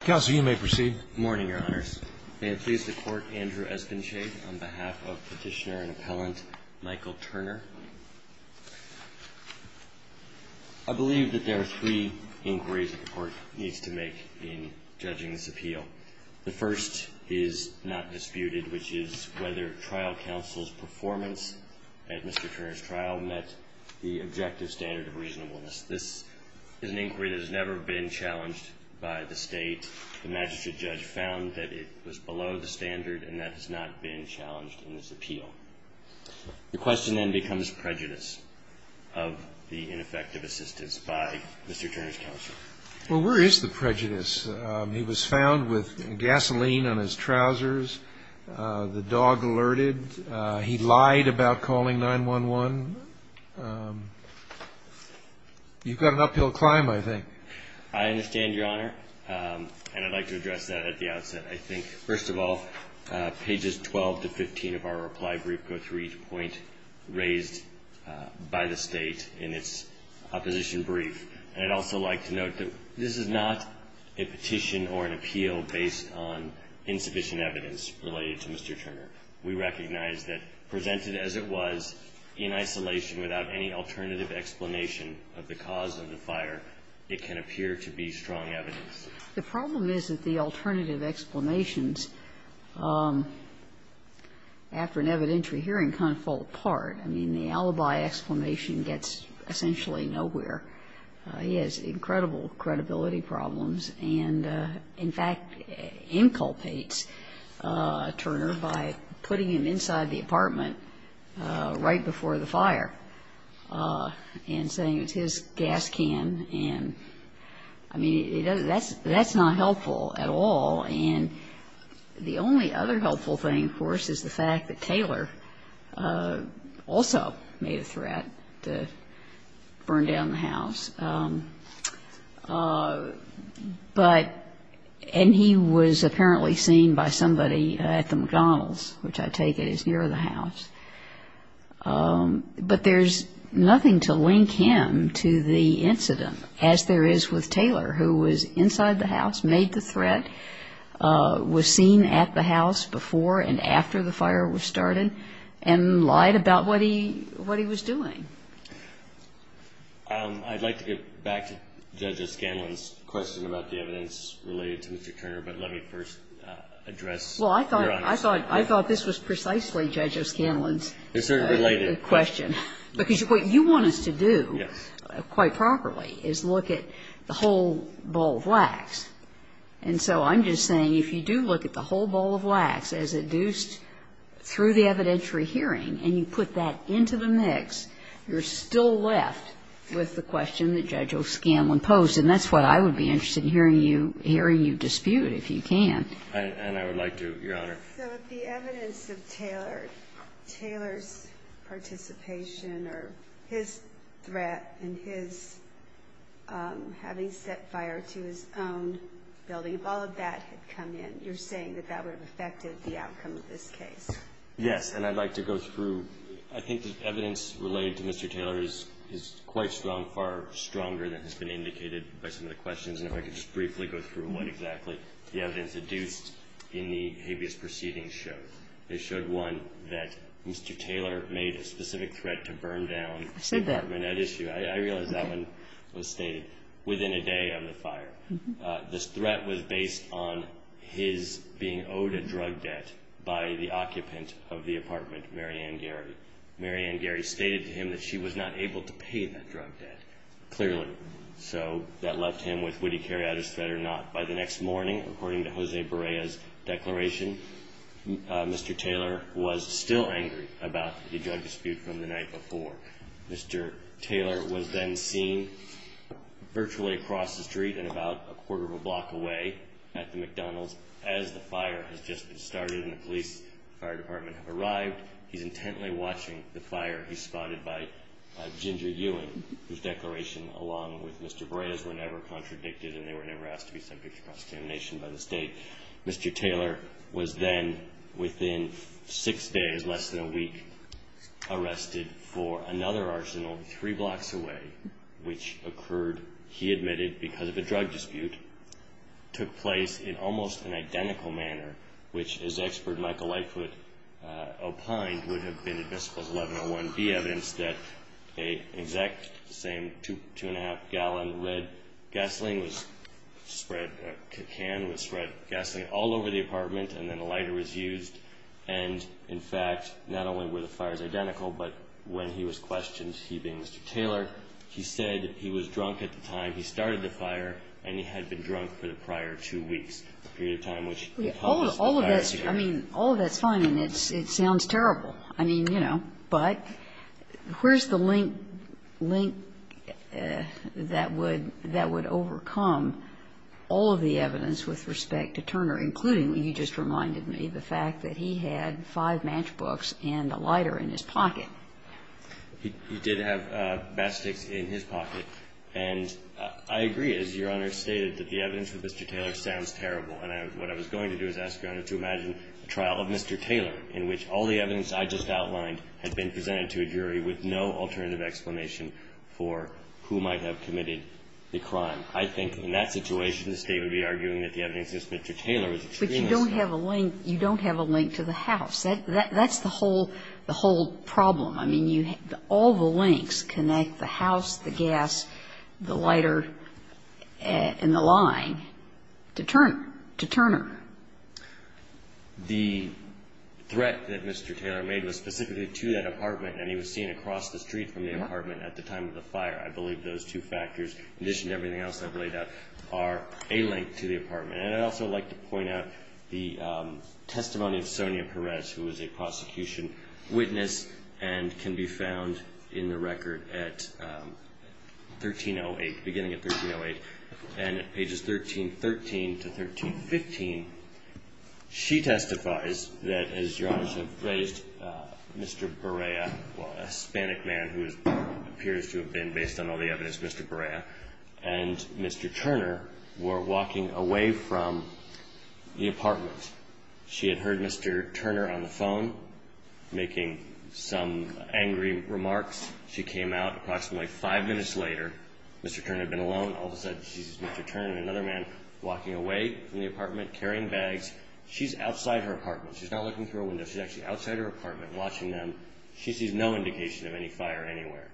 counsel, you may proceed. Morning, your honors. May it please the court. Andrew has been shaved on behalf of petitioner and appellant Michael Turner. I believe that there are three inquiries that the court needs to make in judging this appeal. The first is not disputed, which is whether trial counsel's performance at Mr. Turner's trial met the objective standard of reasonableness. This is an inquiry that has never been challenged by the state. The magistrate judge found that it was below the standard, and that has not been challenged in this appeal. The question then becomes prejudice of the ineffective assistance by Mr. Turner's counsel. Well, where is the prejudice? He was found with gasoline on his trousers. The dog alerted. He lied about calling 9-1-1. You've got an uphill climb, I think. I understand, your honor, and I'd like to address that at the outset. I think, first of all, pages 12 to 15 of our reply brief go through each point raised by the state in its opposition brief, and I'd also like to note that this is not a petition or an appeal based on insufficient evidence. We recognize that presented as it was, in isolation, without any alternative explanation of the cause of the fire, it can appear to be strong evidence. The problem is that the alternative explanations, after an evidentiary hearing, kind of fall apart. I mean, the alibi explanation gets essentially nowhere. He has incredible credibility problems and, in fact, inculpates Turner by putting him inside the apartment right before the fire and saying it's his gas can, and, I mean, that's not helpful at all, and the only other helpful thing, of course, is the fact that Taylor also made a threat to burn down the house. But, and he was apparently seen by somebody at the McDonald's, which I take it is near the house, but there's nothing to link him to the incident as there is with Taylor, who was inside the house, made the threat, was seen at the house before and after the fire was started, and lied about what he was doing. I'd like to get back to Judge O'Scanlan's question about the evidence related to Mr. Turner, but let me first address your honest question. Well, I thought this was precisely Judge O'Scanlan's question, because what you want us to do quite properly is look at the whole bowl of wax, and so I'm just saying if you do look at the whole bowl of wax as induced through the evidentiary hearing and you put that into the mix, you're still left with the question that Judge O'Scanlan posed, and that's what I would be interested in hearing you dispute, if you can. And I would like to, Your Honor. So if the evidence of Taylor's participation or his threat and his having set fire to his own building, if all of that had come in, you're saying that that would have affected the outcome of this case? Yes, and I'd like to go through. I think the evidence related to Mr. Taylor is quite strong, far stronger than has been indicated by some of the questions, and if I could just briefly go through what exactly the evidence induced in the habeas proceedings showed. It showed, one, that Mr. Taylor made a specific threat to burn down the apartment at issue. I realize that one was stated, within a day of the fire. This threat was based on his being owed a drug debt by the occupant of the apartment, Mary Ann Gary. Mary Ann Gary stated to him that she was not able to pay that drug debt, clearly, so that left him with would he carry out his threat or not. By the next morning, according to Jose Barea's declaration, Mr. Taylor was still angry about the drug dispute from the night before. Mr. Taylor was then seen virtually across the street and about a quarter of a block away at the McDonald's as the fire has just been started and the police, the fire department, have arrived. He's intently watching the fire. He's spotted by Ginger Ewing, whose declaration, along with Mr. Barea's, were never contradicted and they were never asked to be sent to prosecution by the state. Mr. Taylor was then, within six days, less than a week, arrested for another arsenal three blocks away, which occurred, he admitted, because of a drug dispute, took place in almost an identical manner, which, as expert Michael Lightfoot opined, would have been, in principles 1101B, evidence that an exact same two and a half gallon of red gasoline was spread, a can was spread of gasoline, all over the apartment and then a lighter was used and, in fact, not only were the fires identical, but when he was questioned, he being Mr. Taylor, he said he was drunk at the time he started the fire and he had been drunk for the prior two weeks, a period of time which, in all of this, I mean, all of that's fine and it sounds terrible. I mean, you know, but where's the link that would overcome all of the evidence with respect to Turner, including, you just reminded me, the fact that he had five matchbooks and a lighter in his pocket? He did have matchsticks in his pocket. And I agree, as Your Honor stated, that the evidence for Mr. Taylor sounds terrible. And what I was going to do is ask Your Honor to imagine a trial of Mr. Taylor in which all the evidence I just outlined had been presented to a jury with no alternative explanation for who might have committed the crime. I think in that situation, the State would be arguing that the evidence against Mr. Taylor is extremist. But you don't have a link to the house. That's the whole problem. I mean, all the links connect the house, the gas, the lighter, and the line to Turner. The threat that Mr. Taylor made was specifically to that apartment and he was seen across the street from the apartment at the time of the fire. I believe those two factors, in addition to everything else I've laid out, are a link to the apartment. And I'd also like to point out the testimony of Sonia Perez, who was a prosecution witness and can be found in the record at 1308, beginning at 1308. And at pages 1313 to 1315, she testifies that, as Your Honor has phrased, Mr. Barrea, a Hispanic man who appears to have been, based on all the evidence, Mr. Barrea, and Mr. Turner were walking away from the apartment. She had heard Mr. Turner on the phone making some angry remarks. She came out approximately five minutes later. Mr. Turner had been alone. All of a sudden, she sees Mr. Turner and another man walking away from the apartment, carrying bags. She's outside her apartment. She's not looking through a window. She's actually outside her apartment watching them. She sees no indication of any fire anywhere.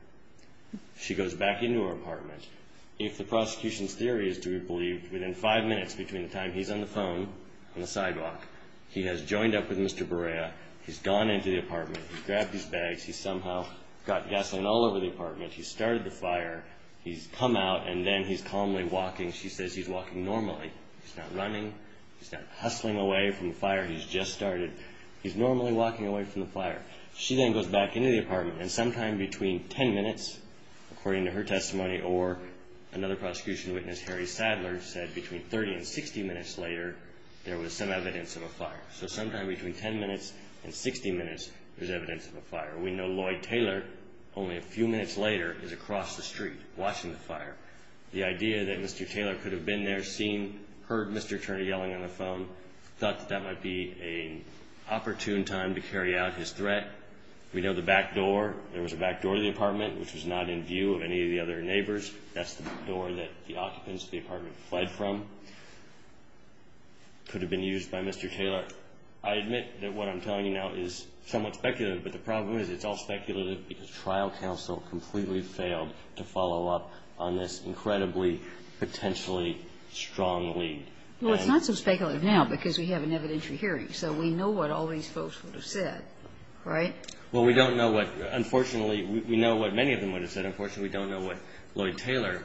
She goes back into her apartment. If the prosecution's theory is to be believed, within five minutes between the time he's on the phone and the sidewalk, he has joined up with Mr. Barrea. He's gone into the apartment. He's grabbed his bags. He's somehow got gasoline all over the apartment. He's started the fire. He's come out, and then he's calmly walking. She says he's walking normally. He's not running. He's not hustling away from the fire he's just started. He's normally walking away from the fire. She then goes back into the apartment, and sometime between 10 minutes, according to her testimony, or another prosecution witness, Harry Sadler, said between 30 and 60 minutes later, there was some evidence of a fire. So sometime between 10 minutes and 60 minutes, there's evidence of a fire. We know Lloyd Taylor, only a few minutes later, is across the street watching the fire. The idea that Mr. Taylor could have been there, seen, heard Mr. Turner yelling on the phone, thought that that might be an opportune time to carry out his threat. We know the back door, there was a back door to the apartment, which was not in view of any of the other neighbors. That's the door that the occupants of the apartment fled from, could have been used by Mr. Taylor. I admit that what I'm telling you now is somewhat speculative, but the problem is it's all speculative because trial counsel completely failed to follow up on this incredibly, potentially strong lead. Well, it's not so speculative now because we have an evidentiary hearing, so we know what all these folks would have said, right? Well, we don't know what, unfortunately, we know what many of them would have said. Unfortunately, we don't know what Lloyd Taylor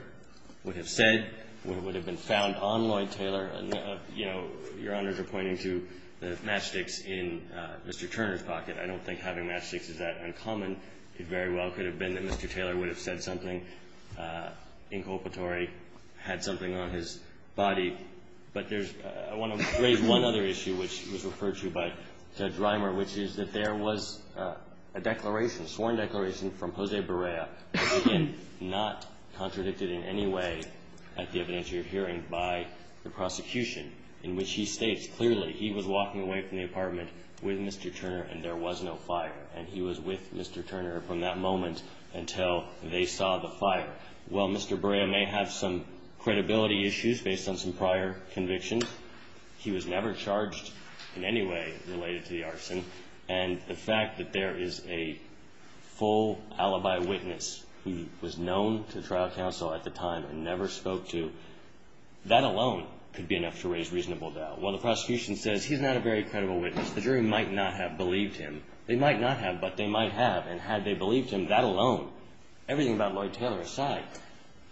would have said, what would have been found on Lloyd Taylor. You know, Your Honors are pointing to the matchsticks in Mr. Turner's pocket. I don't think having matchsticks is that uncommon. It very well could have been that Mr. Taylor would have said something inculpatory, had something on his body, but there's, I want to raise one other issue which was referred to by Judge Reimer, which is that there was a declaration, sworn declaration from Jose Barea, which again, not contradicted in any way at the evidentiary hearing by the prosecution, in which he states clearly he was walking away from the apartment with Mr. Turner and there was no fire. And he was with Mr. Turner from that moment until they saw the fire. Well, Mr. Barea may have some credibility issues based on some prior convictions. He was never charged in any way related to the arson. And the fact that there is a full alibi witness who was known to trial counsel at the time and never spoke to, that alone could be enough to raise reasonable doubt. While the prosecution says he's not a very credible witness, the jury might not have believed him. They might not have, but they might have, and had they believed him, that alone, everything about Lloyd Taylor aside,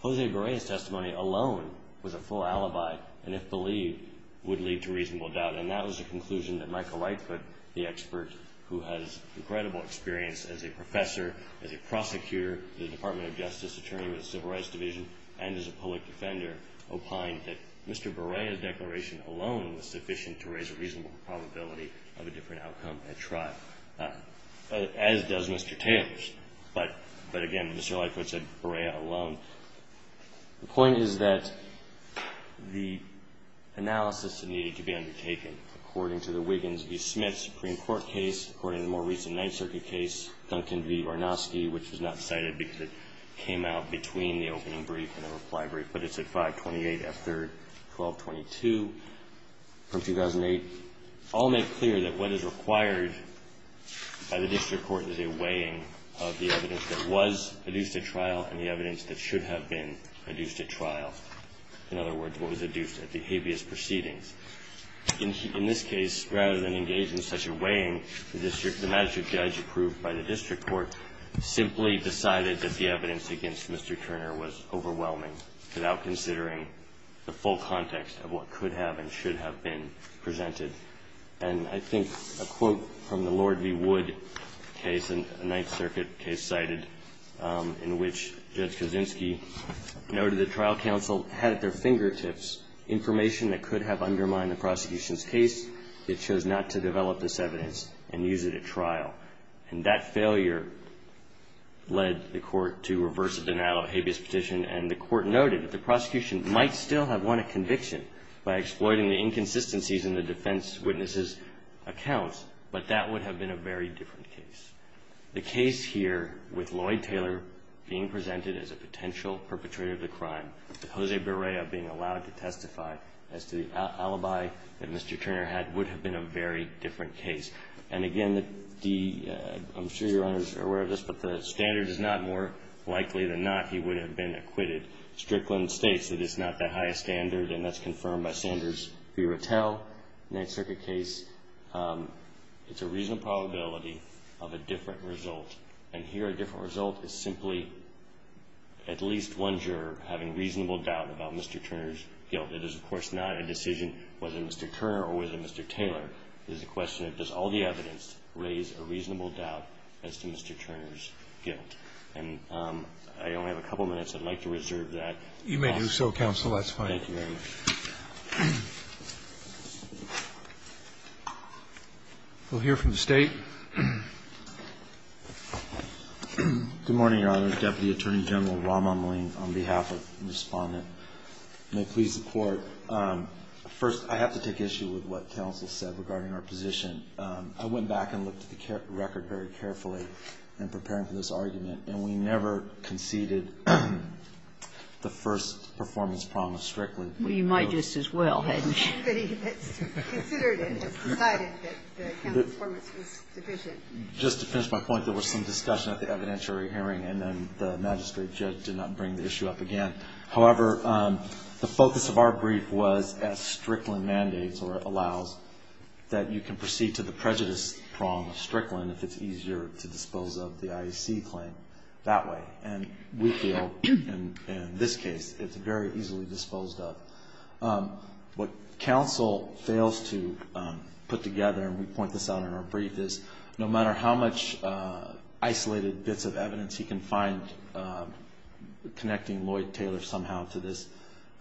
Jose Barea's testimony alone was a full alibi, and if believed, would lead to reasonable doubt. And that was the conclusion that Michael Lightfoot, the expert who has incredible experience as a professor, as a prosecutor in the Department of Justice, attorney with the Civil Rights Division, and as a public defender, opined that Mr. Barea's declaration alone was sufficient to raise a reasonable probability of a different outcome at trial, as does Mr. Taylor's. But, again, Mr. Lightfoot said Barea alone. The point is that the analysis that needed to be undertaken, according to the Wiggins v. Smith Supreme Court case, according to the more recent Ninth Circuit case, Duncan v. Varnosky, which was not cited because it came out between the opening brief and the reply brief, but it's at 528 F. 3rd, 1222, from 2008, all make clear that what is required by the district court is a weighing of the evidence that was adduced at trial and the evidence that should have been adduced at trial. In other words, what was adduced at the habeas proceedings. In this case, rather than engage in such a weighing, the magistrate judge approved by the district court simply decided that the evidence against Mr. Turner was overwhelming without considering the full context of what could have and should have been presented. And I think a quote from the Lord v. Wood case, a Ninth Circuit case cited, in which Judge Kaczynski noted that trial counsel had at their fingertips information that could have undermined the prosecution's case. It chose not to develop this evidence and use it at trial. And that failure led the court to reverse the denial of a habeas petition and the court noted that the prosecution might still have won a conviction by exploiting the inconsistencies in the defense witness' accounts, but that would have been a very different case. The case here with Lloyd Taylor being presented as a potential perpetrator of the crime, that Jose Berrea being allowed to testify as to the alibi that Mr. Turner had, would have been a very different case. And again, I'm sure your honors are aware of this, but the standard is not more likely than not he would have been acquitted. Strickland states that it's not the highest standard and that's confirmed by Sanders v. Rattell, Ninth Circuit case. It's a reasonable probability of a different result. And here a different result is simply at least one juror having reasonable doubt about Mr. Turner's guilt. It is, of course, not a decision whether Mr. Turner or whether Mr. Taylor. It is a question of does all the evidence raise a reasonable doubt as to Mr. Turner's guilt. And I only have a couple of minutes. I'd like to reserve that. You may do so, counsel. That's fine. Thank you very much. We'll hear from the State. Good morning, Your Honor. Deputy Attorney General Rahm Emanuel, on behalf of the Respondent. May it please the Court. First, I have to take issue with what counsel said regarding our position. I went back and looked at the record very carefully in preparing for this argument, and we never conceded the first performance promise strictly. We might just as well, hadn't we? Anybody that's considered it has decided that the counsel's performance was deficient. Just to finish my point, there was some discussion at the evidentiary hearing and then the magistrate judge did not bring the issue up again. However, the focus of our brief was as Strickland mandates or allows that you can proceed to the prejudice prong of Strickland if it's easier to dispose of the IEC claim that way. And we feel, in this case, it's very easily disposed of. What counsel fails to put together, and we point this out in our brief, is no matter how much isolated bits of evidence he can find connecting Lloyd Taylor somehow to this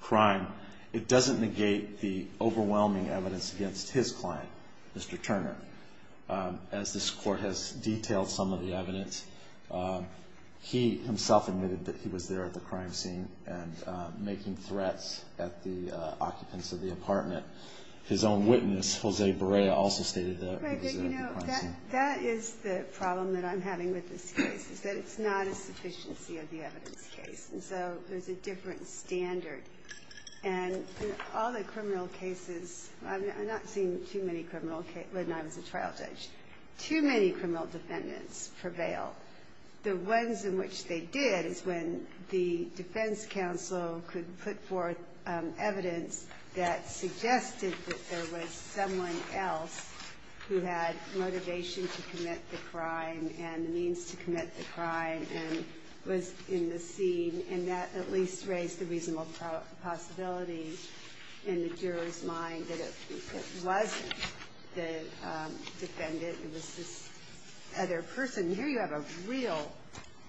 crime, it doesn't negate the overwhelming evidence against his client, Mr. Turner. As this Court has detailed some of the evidence, he himself admitted that he was there at the crime scene and making threats at the occupants of the apartment. His own witness, Jose Barea, also stated that he was at the crime scene. That is the problem that I'm having with this case, is that it's not a sufficiency of the evidence case, and so there's a different standard. And all the criminal cases, I've not seen too many criminal cases when I was a trial judge, too many criminal defendants prevail. The ones in which they did is when the defense counsel could put forth evidence that suggested that there was someone else who had motivation to commit the crime and the means to commit the crime and was in the scene, and that at least raised the reasonable possibility in the juror's mind that it wasn't the defendant, it was this other person. Here you have a real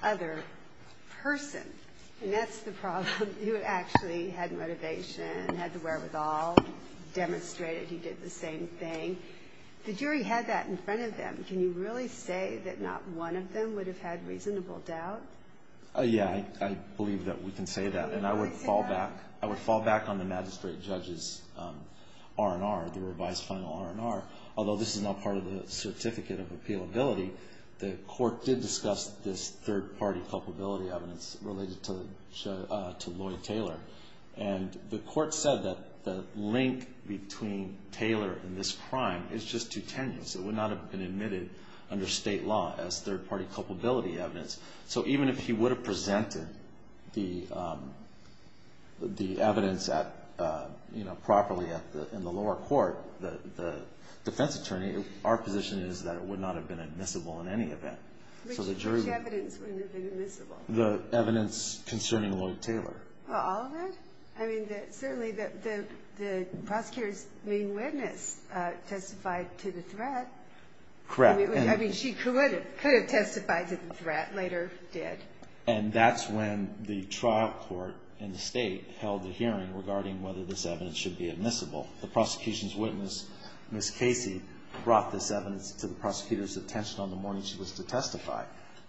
other person, and that's the problem. He actually had motivation, had the wherewithal, demonstrated he did the same thing. The jury had that in front of them. Can you really say that not one of them would have had reasonable doubt? Yeah, I believe that we can say that. And I would fall back on the magistrate judge's R&R, the revised final R&R, although this is not part of the certificate of appealability. The court did discuss this third-party culpability evidence related to Lloyd Taylor. And the court said that the link between Taylor and this crime is just too tenuous. It would not have been admitted under state law as third-party culpability evidence. So even if he would have presented the evidence properly in the lower court, the defense attorney, our position is that it would not have been admissible in any event. Which evidence wouldn't have been admissible? The evidence concerning Lloyd Taylor. All of it? I mean, certainly the prosecutor's main witness testified to the threat. Correct. I mean, she could have testified to the threat, later did. And that's when the trial court in the state held the hearing regarding whether this evidence should be admissible. The prosecution's witness, Ms. Casey, brought this evidence to the prosecutor's attention on the morning she was to testify.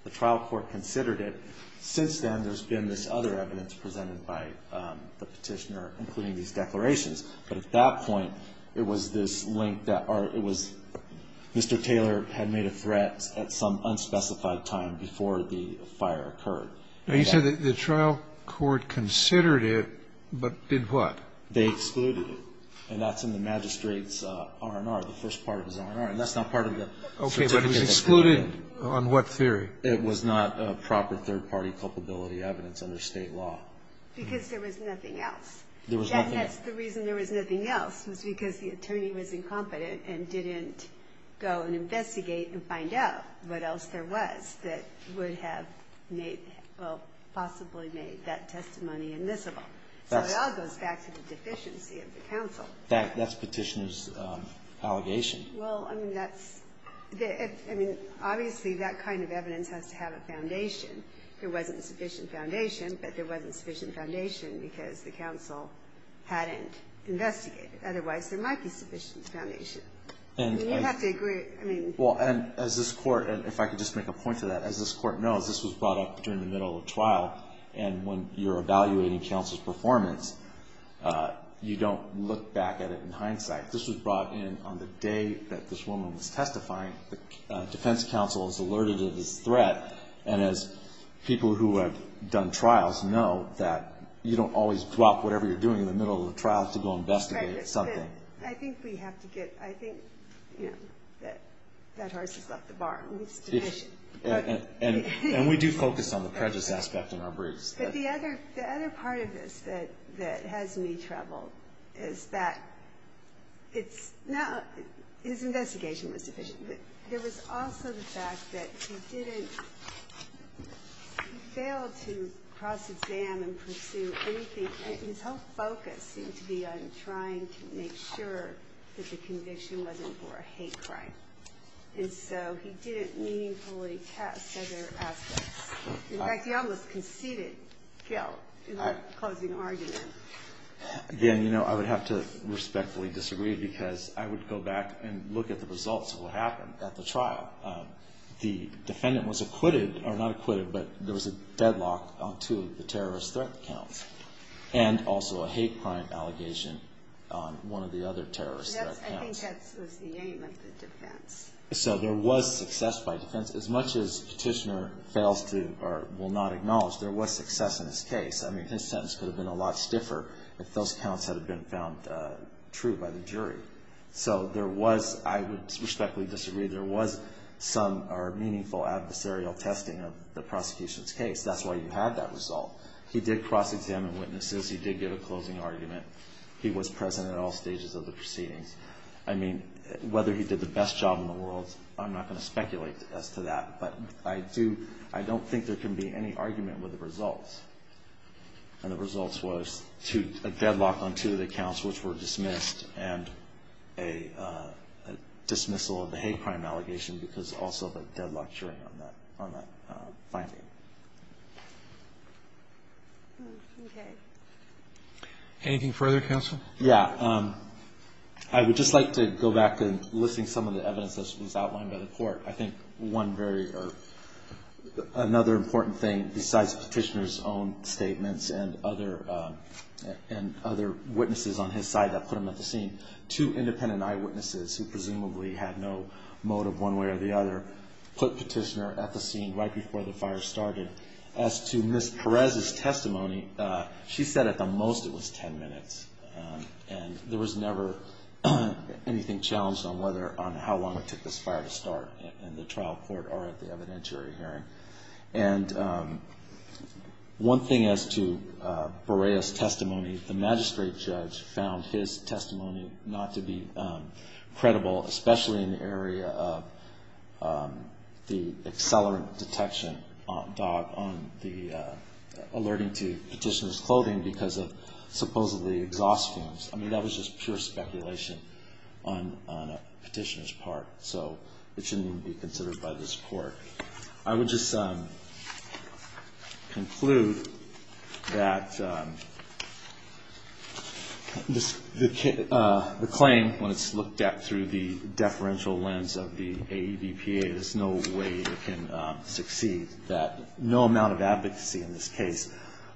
The trial court considered it. Since then, there's been this other evidence presented by the petitioner, including these declarations. But at that point, it was this link that or it was Mr. Taylor had made a threat at some unspecified time before the fire occurred. Now, you said that the trial court considered it, but did what? They excluded it. And that's in the magistrate's R&R, the first part of his R&R. And that's not part of the. Okay, but it's excluded on what theory? It was not a proper third party culpability evidence under state law. Because there was nothing else. There was nothing else. The reason there was nothing else was because the attorney was incompetent and didn't go and investigate and find out what else there was that would have made, well, possibly made that testimony admissible. So it all goes back to the deficiency of the counsel. That's petitioner's allegation. Well, I mean, that's, I mean, obviously, that kind of evidence has to have a foundation. There wasn't a sufficient foundation, but there wasn't a sufficient foundation because the counsel hadn't investigated. Otherwise, there might be sufficient foundation. And you have to agree, I mean. Well, and as this court, and if I could just make a point to that, as this court knows, this was brought up during the middle of the trial. And when you're evaluating counsel's performance, you don't look back at it in hindsight. This was brought in on the day that this woman was testifying. The defense counsel is alerted to this threat. And as people who have done trials know that you don't always drop whatever you're doing in the middle of the trial to go investigate something. I think we have to get, I think, you know, that that horse has left the barn. It's deficient. And we do focus on the prejudice aspect in our briefs. But the other part of this that has me troubled is that it's not, his investigation was deficient. There was also the fact that he didn't, he failed to cross-exam and pursue anything. His whole focus seemed to be on trying to make sure that the conviction wasn't for a hate crime. And so he didn't meaningfully test other aspects. In fact, he almost conceded guilt in the closing argument. Again, you know, I would have to respectfully disagree because I would go back and look at the results of what happened at the trial. The defendant was acquitted, or not acquitted, but there was a deadlock on two of the terrorist threat counts. And also a hate crime allegation on one of the other terrorist threat counts. I think that's the aim of the defense. So there was success by defense. As much as Petitioner fails to, or will not acknowledge, there was success in his case. I mean, his sentence could have been a lot stiffer if those counts had been found true by the jury. So there was, I would respectfully disagree, there was some, or meaningful adversarial testing of the prosecution's case. That's why you had that result. He did cross-examine witnesses. He did give a closing argument. He was present at all stages of the proceedings. I mean, whether he did the best job in the world, I'm not going to speculate as to that. But I do, I don't think there can be any argument with the results. And the results was two, a deadlock on two of the counts which were dismissed, and a dismissal of the hate crime allegation because also of a deadlocked jury on that, on that finding. Okay. Anything further, counsel? Yeah. I would just like to go back to listing some of the evidence that was outlined by the court. I think one very, or another important thing besides Petitioner's own statements and other witnesses on his side that put him at the scene, two independent eyewitnesses who presumably had no motive one way or the other put Petitioner at the scene right before the fire started. As to Ms. Perez's testimony, she said at the most it was ten minutes. And there was never anything challenged on whether, on how long it took this fire to start in the trial court or at the evidentiary hearing. And one thing as to Borrea's testimony, the magistrate judge found his testimony not to be credible, especially in the area of the accelerant detection on the, alerting to Petitioner's clothing because of supposedly exhaust fumes. I mean, that was just pure speculation on a Petitioner's part. So it shouldn't even be considered by this court. I would just conclude that the claim, when it's looked at through the deferential lens of the AEDPA, there's no way it can succeed, that no amount of advocacy in this case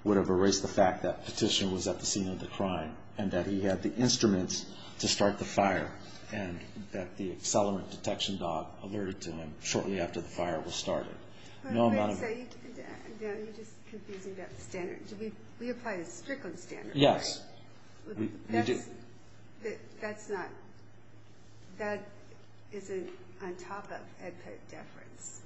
would have erased the fact that Petitioner was at the scene of the crime and that he had the instruments to start the fire and that the accelerant detection dog alerted to him shortly after the fire was started. You're just confusing about the standard. We apply the Strickland standard, right? Yes. That's not, that isn't on top of AEDPA deference.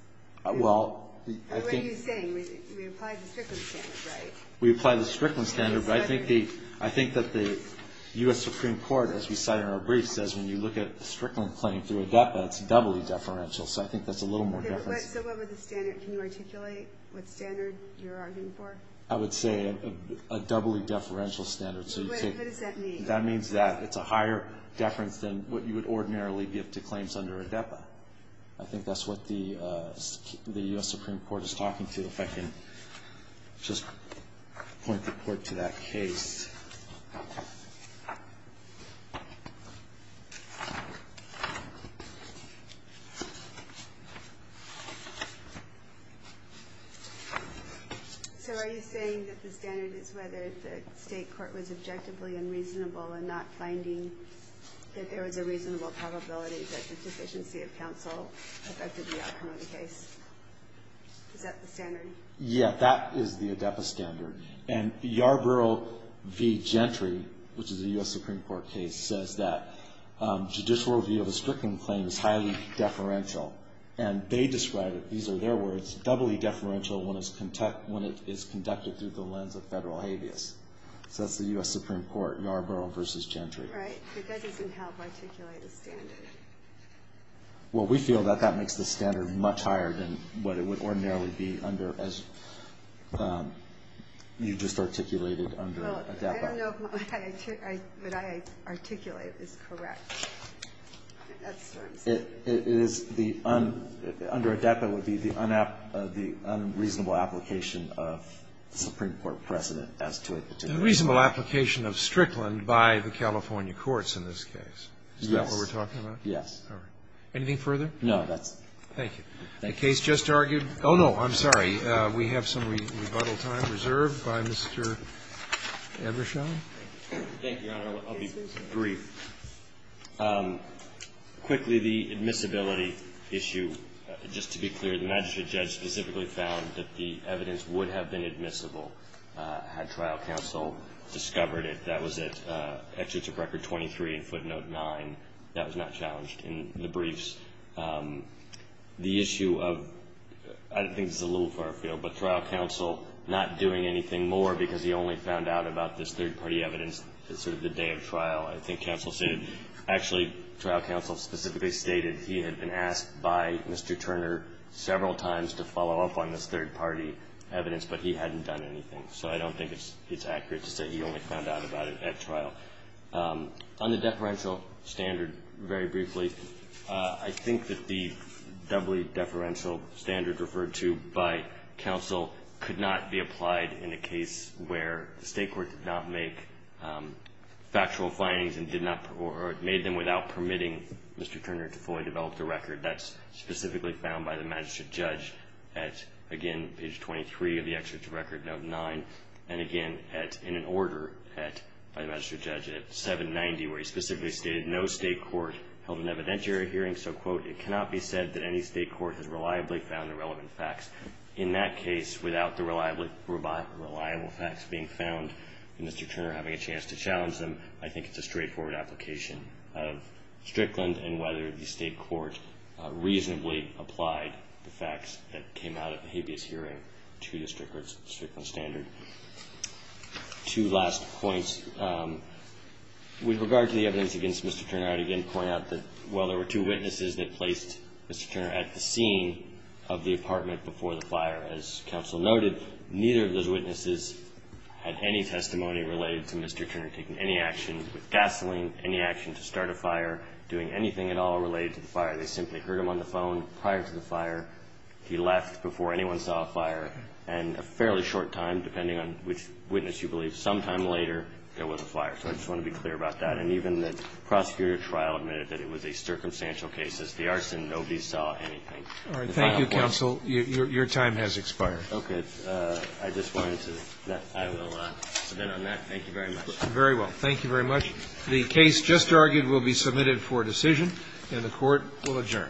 Well, I think... What are you saying? We apply the Strickland standard, right? We apply the Strickland standard, but I think that the U.S. Supreme Court, as we cite in our brief, says when you look at the Strickland claim through AEDPA, it's doubly deferential, so I think that's a little more deference. So what would the standard, can you articulate what standard you're arguing for? I would say a doubly deferential standard. What does that mean? That means that it's a higher deference than what you would ordinarily give to claims under AEDPA. I think that's what the U.S. Supreme Court is talking to. I don't know if I can just point the court to that case. So are you saying that the standard is whether the State court was objectively unreasonable in not finding that there was a reasonable probability that the deficiency of counsel affected the outcome of the case? Is that the standard? Yeah, that is the AEDPA standard. And Yarborough v. Gentry, which is a U.S. Supreme Court case, says that judicial review of a Strickland claim is highly deferential. And they describe it, these are their words, doubly deferential when it's conducted through the lens of federal habeas. So that's the U.S. Supreme Court, Yarborough v. Gentry. Right, but that doesn't help articulate the standard. Well, we feel that that makes the standard much higher than what it would ordinarily be under, as you just articulated under AEDPA. Well, I don't know if what I articulate is correct. That's what I'm saying. Under AEDPA, it would be the unreasonable application of Supreme Court precedent as to a particular case. The reasonable application of Strickland by the California courts in this case. Is that what we're talking about? Yes. Anything further? No, that's it. Thank you. The case just argued. Oh, no, I'm sorry. We have some rebuttal time reserved by Mr. Ebershaw. Thank you, Your Honor. I'll be brief. Quickly, the admissibility issue. Just to be clear, the magistrate judge specifically found that the evidence would have been admissible had trial counsel discovered it. That was at Executive Record 23 in footnote 9. That was not challenged in the briefs. The issue of, I think this is a little far afield, but trial counsel not doing anything more because he only found out about this third-party evidence sort of the day of trial, I think counsel stated. Actually, trial counsel specifically stated he had been asked by Mr. Turner several times to follow up on this third-party evidence, but he hadn't done anything. So I don't think it's accurate to say he only found out about it at trial. On the deferential standard, very briefly, I think that the doubly deferential standard referred to by counsel could not be applied in a case where the state court did not make factual findings or made them without permitting Mr. Turner to fully develop the record. That's specifically found by the magistrate judge at, again, page 23 of the Executive Record, note 9, and again in an order by the magistrate judge at 790, where he specifically stated no state court held an evidentiary hearing. So, quote, it cannot be said that any state court has reliably found the relevant facts. In that case, without the reliable facts being found and Mr. Turner having a chance to challenge them, I think it's a straightforward application of Strickland and whether the state court reasonably applied the facts that came out of the habeas hearing to the Strickland standard. Two last points. With regard to the evidence against Mr. Turner, I would again point out that, while there were two witnesses that placed Mr. Turner at the scene of the apartment before the fire, as counsel noted, neither of those witnesses had any testimony related to Mr. Turner taking any action with gasoline, any action to start a fire, doing anything at all related to the fire. They simply heard him on the phone prior to the fire. He left before anyone saw a fire, and a fairly short time, depending on which witness you believe, sometime later there was a fire. So I just want to be clear about that. And even the prosecutor trial admitted that it was a circumstantial case. As the arson, nobody saw anything. All right. Thank you, counsel. Your time has expired. Okay. I just wanted to, I will submit on that. Thank you very much. Very well. Thank you very much. The case just argued will be submitted for decision, and the Court will adjourn.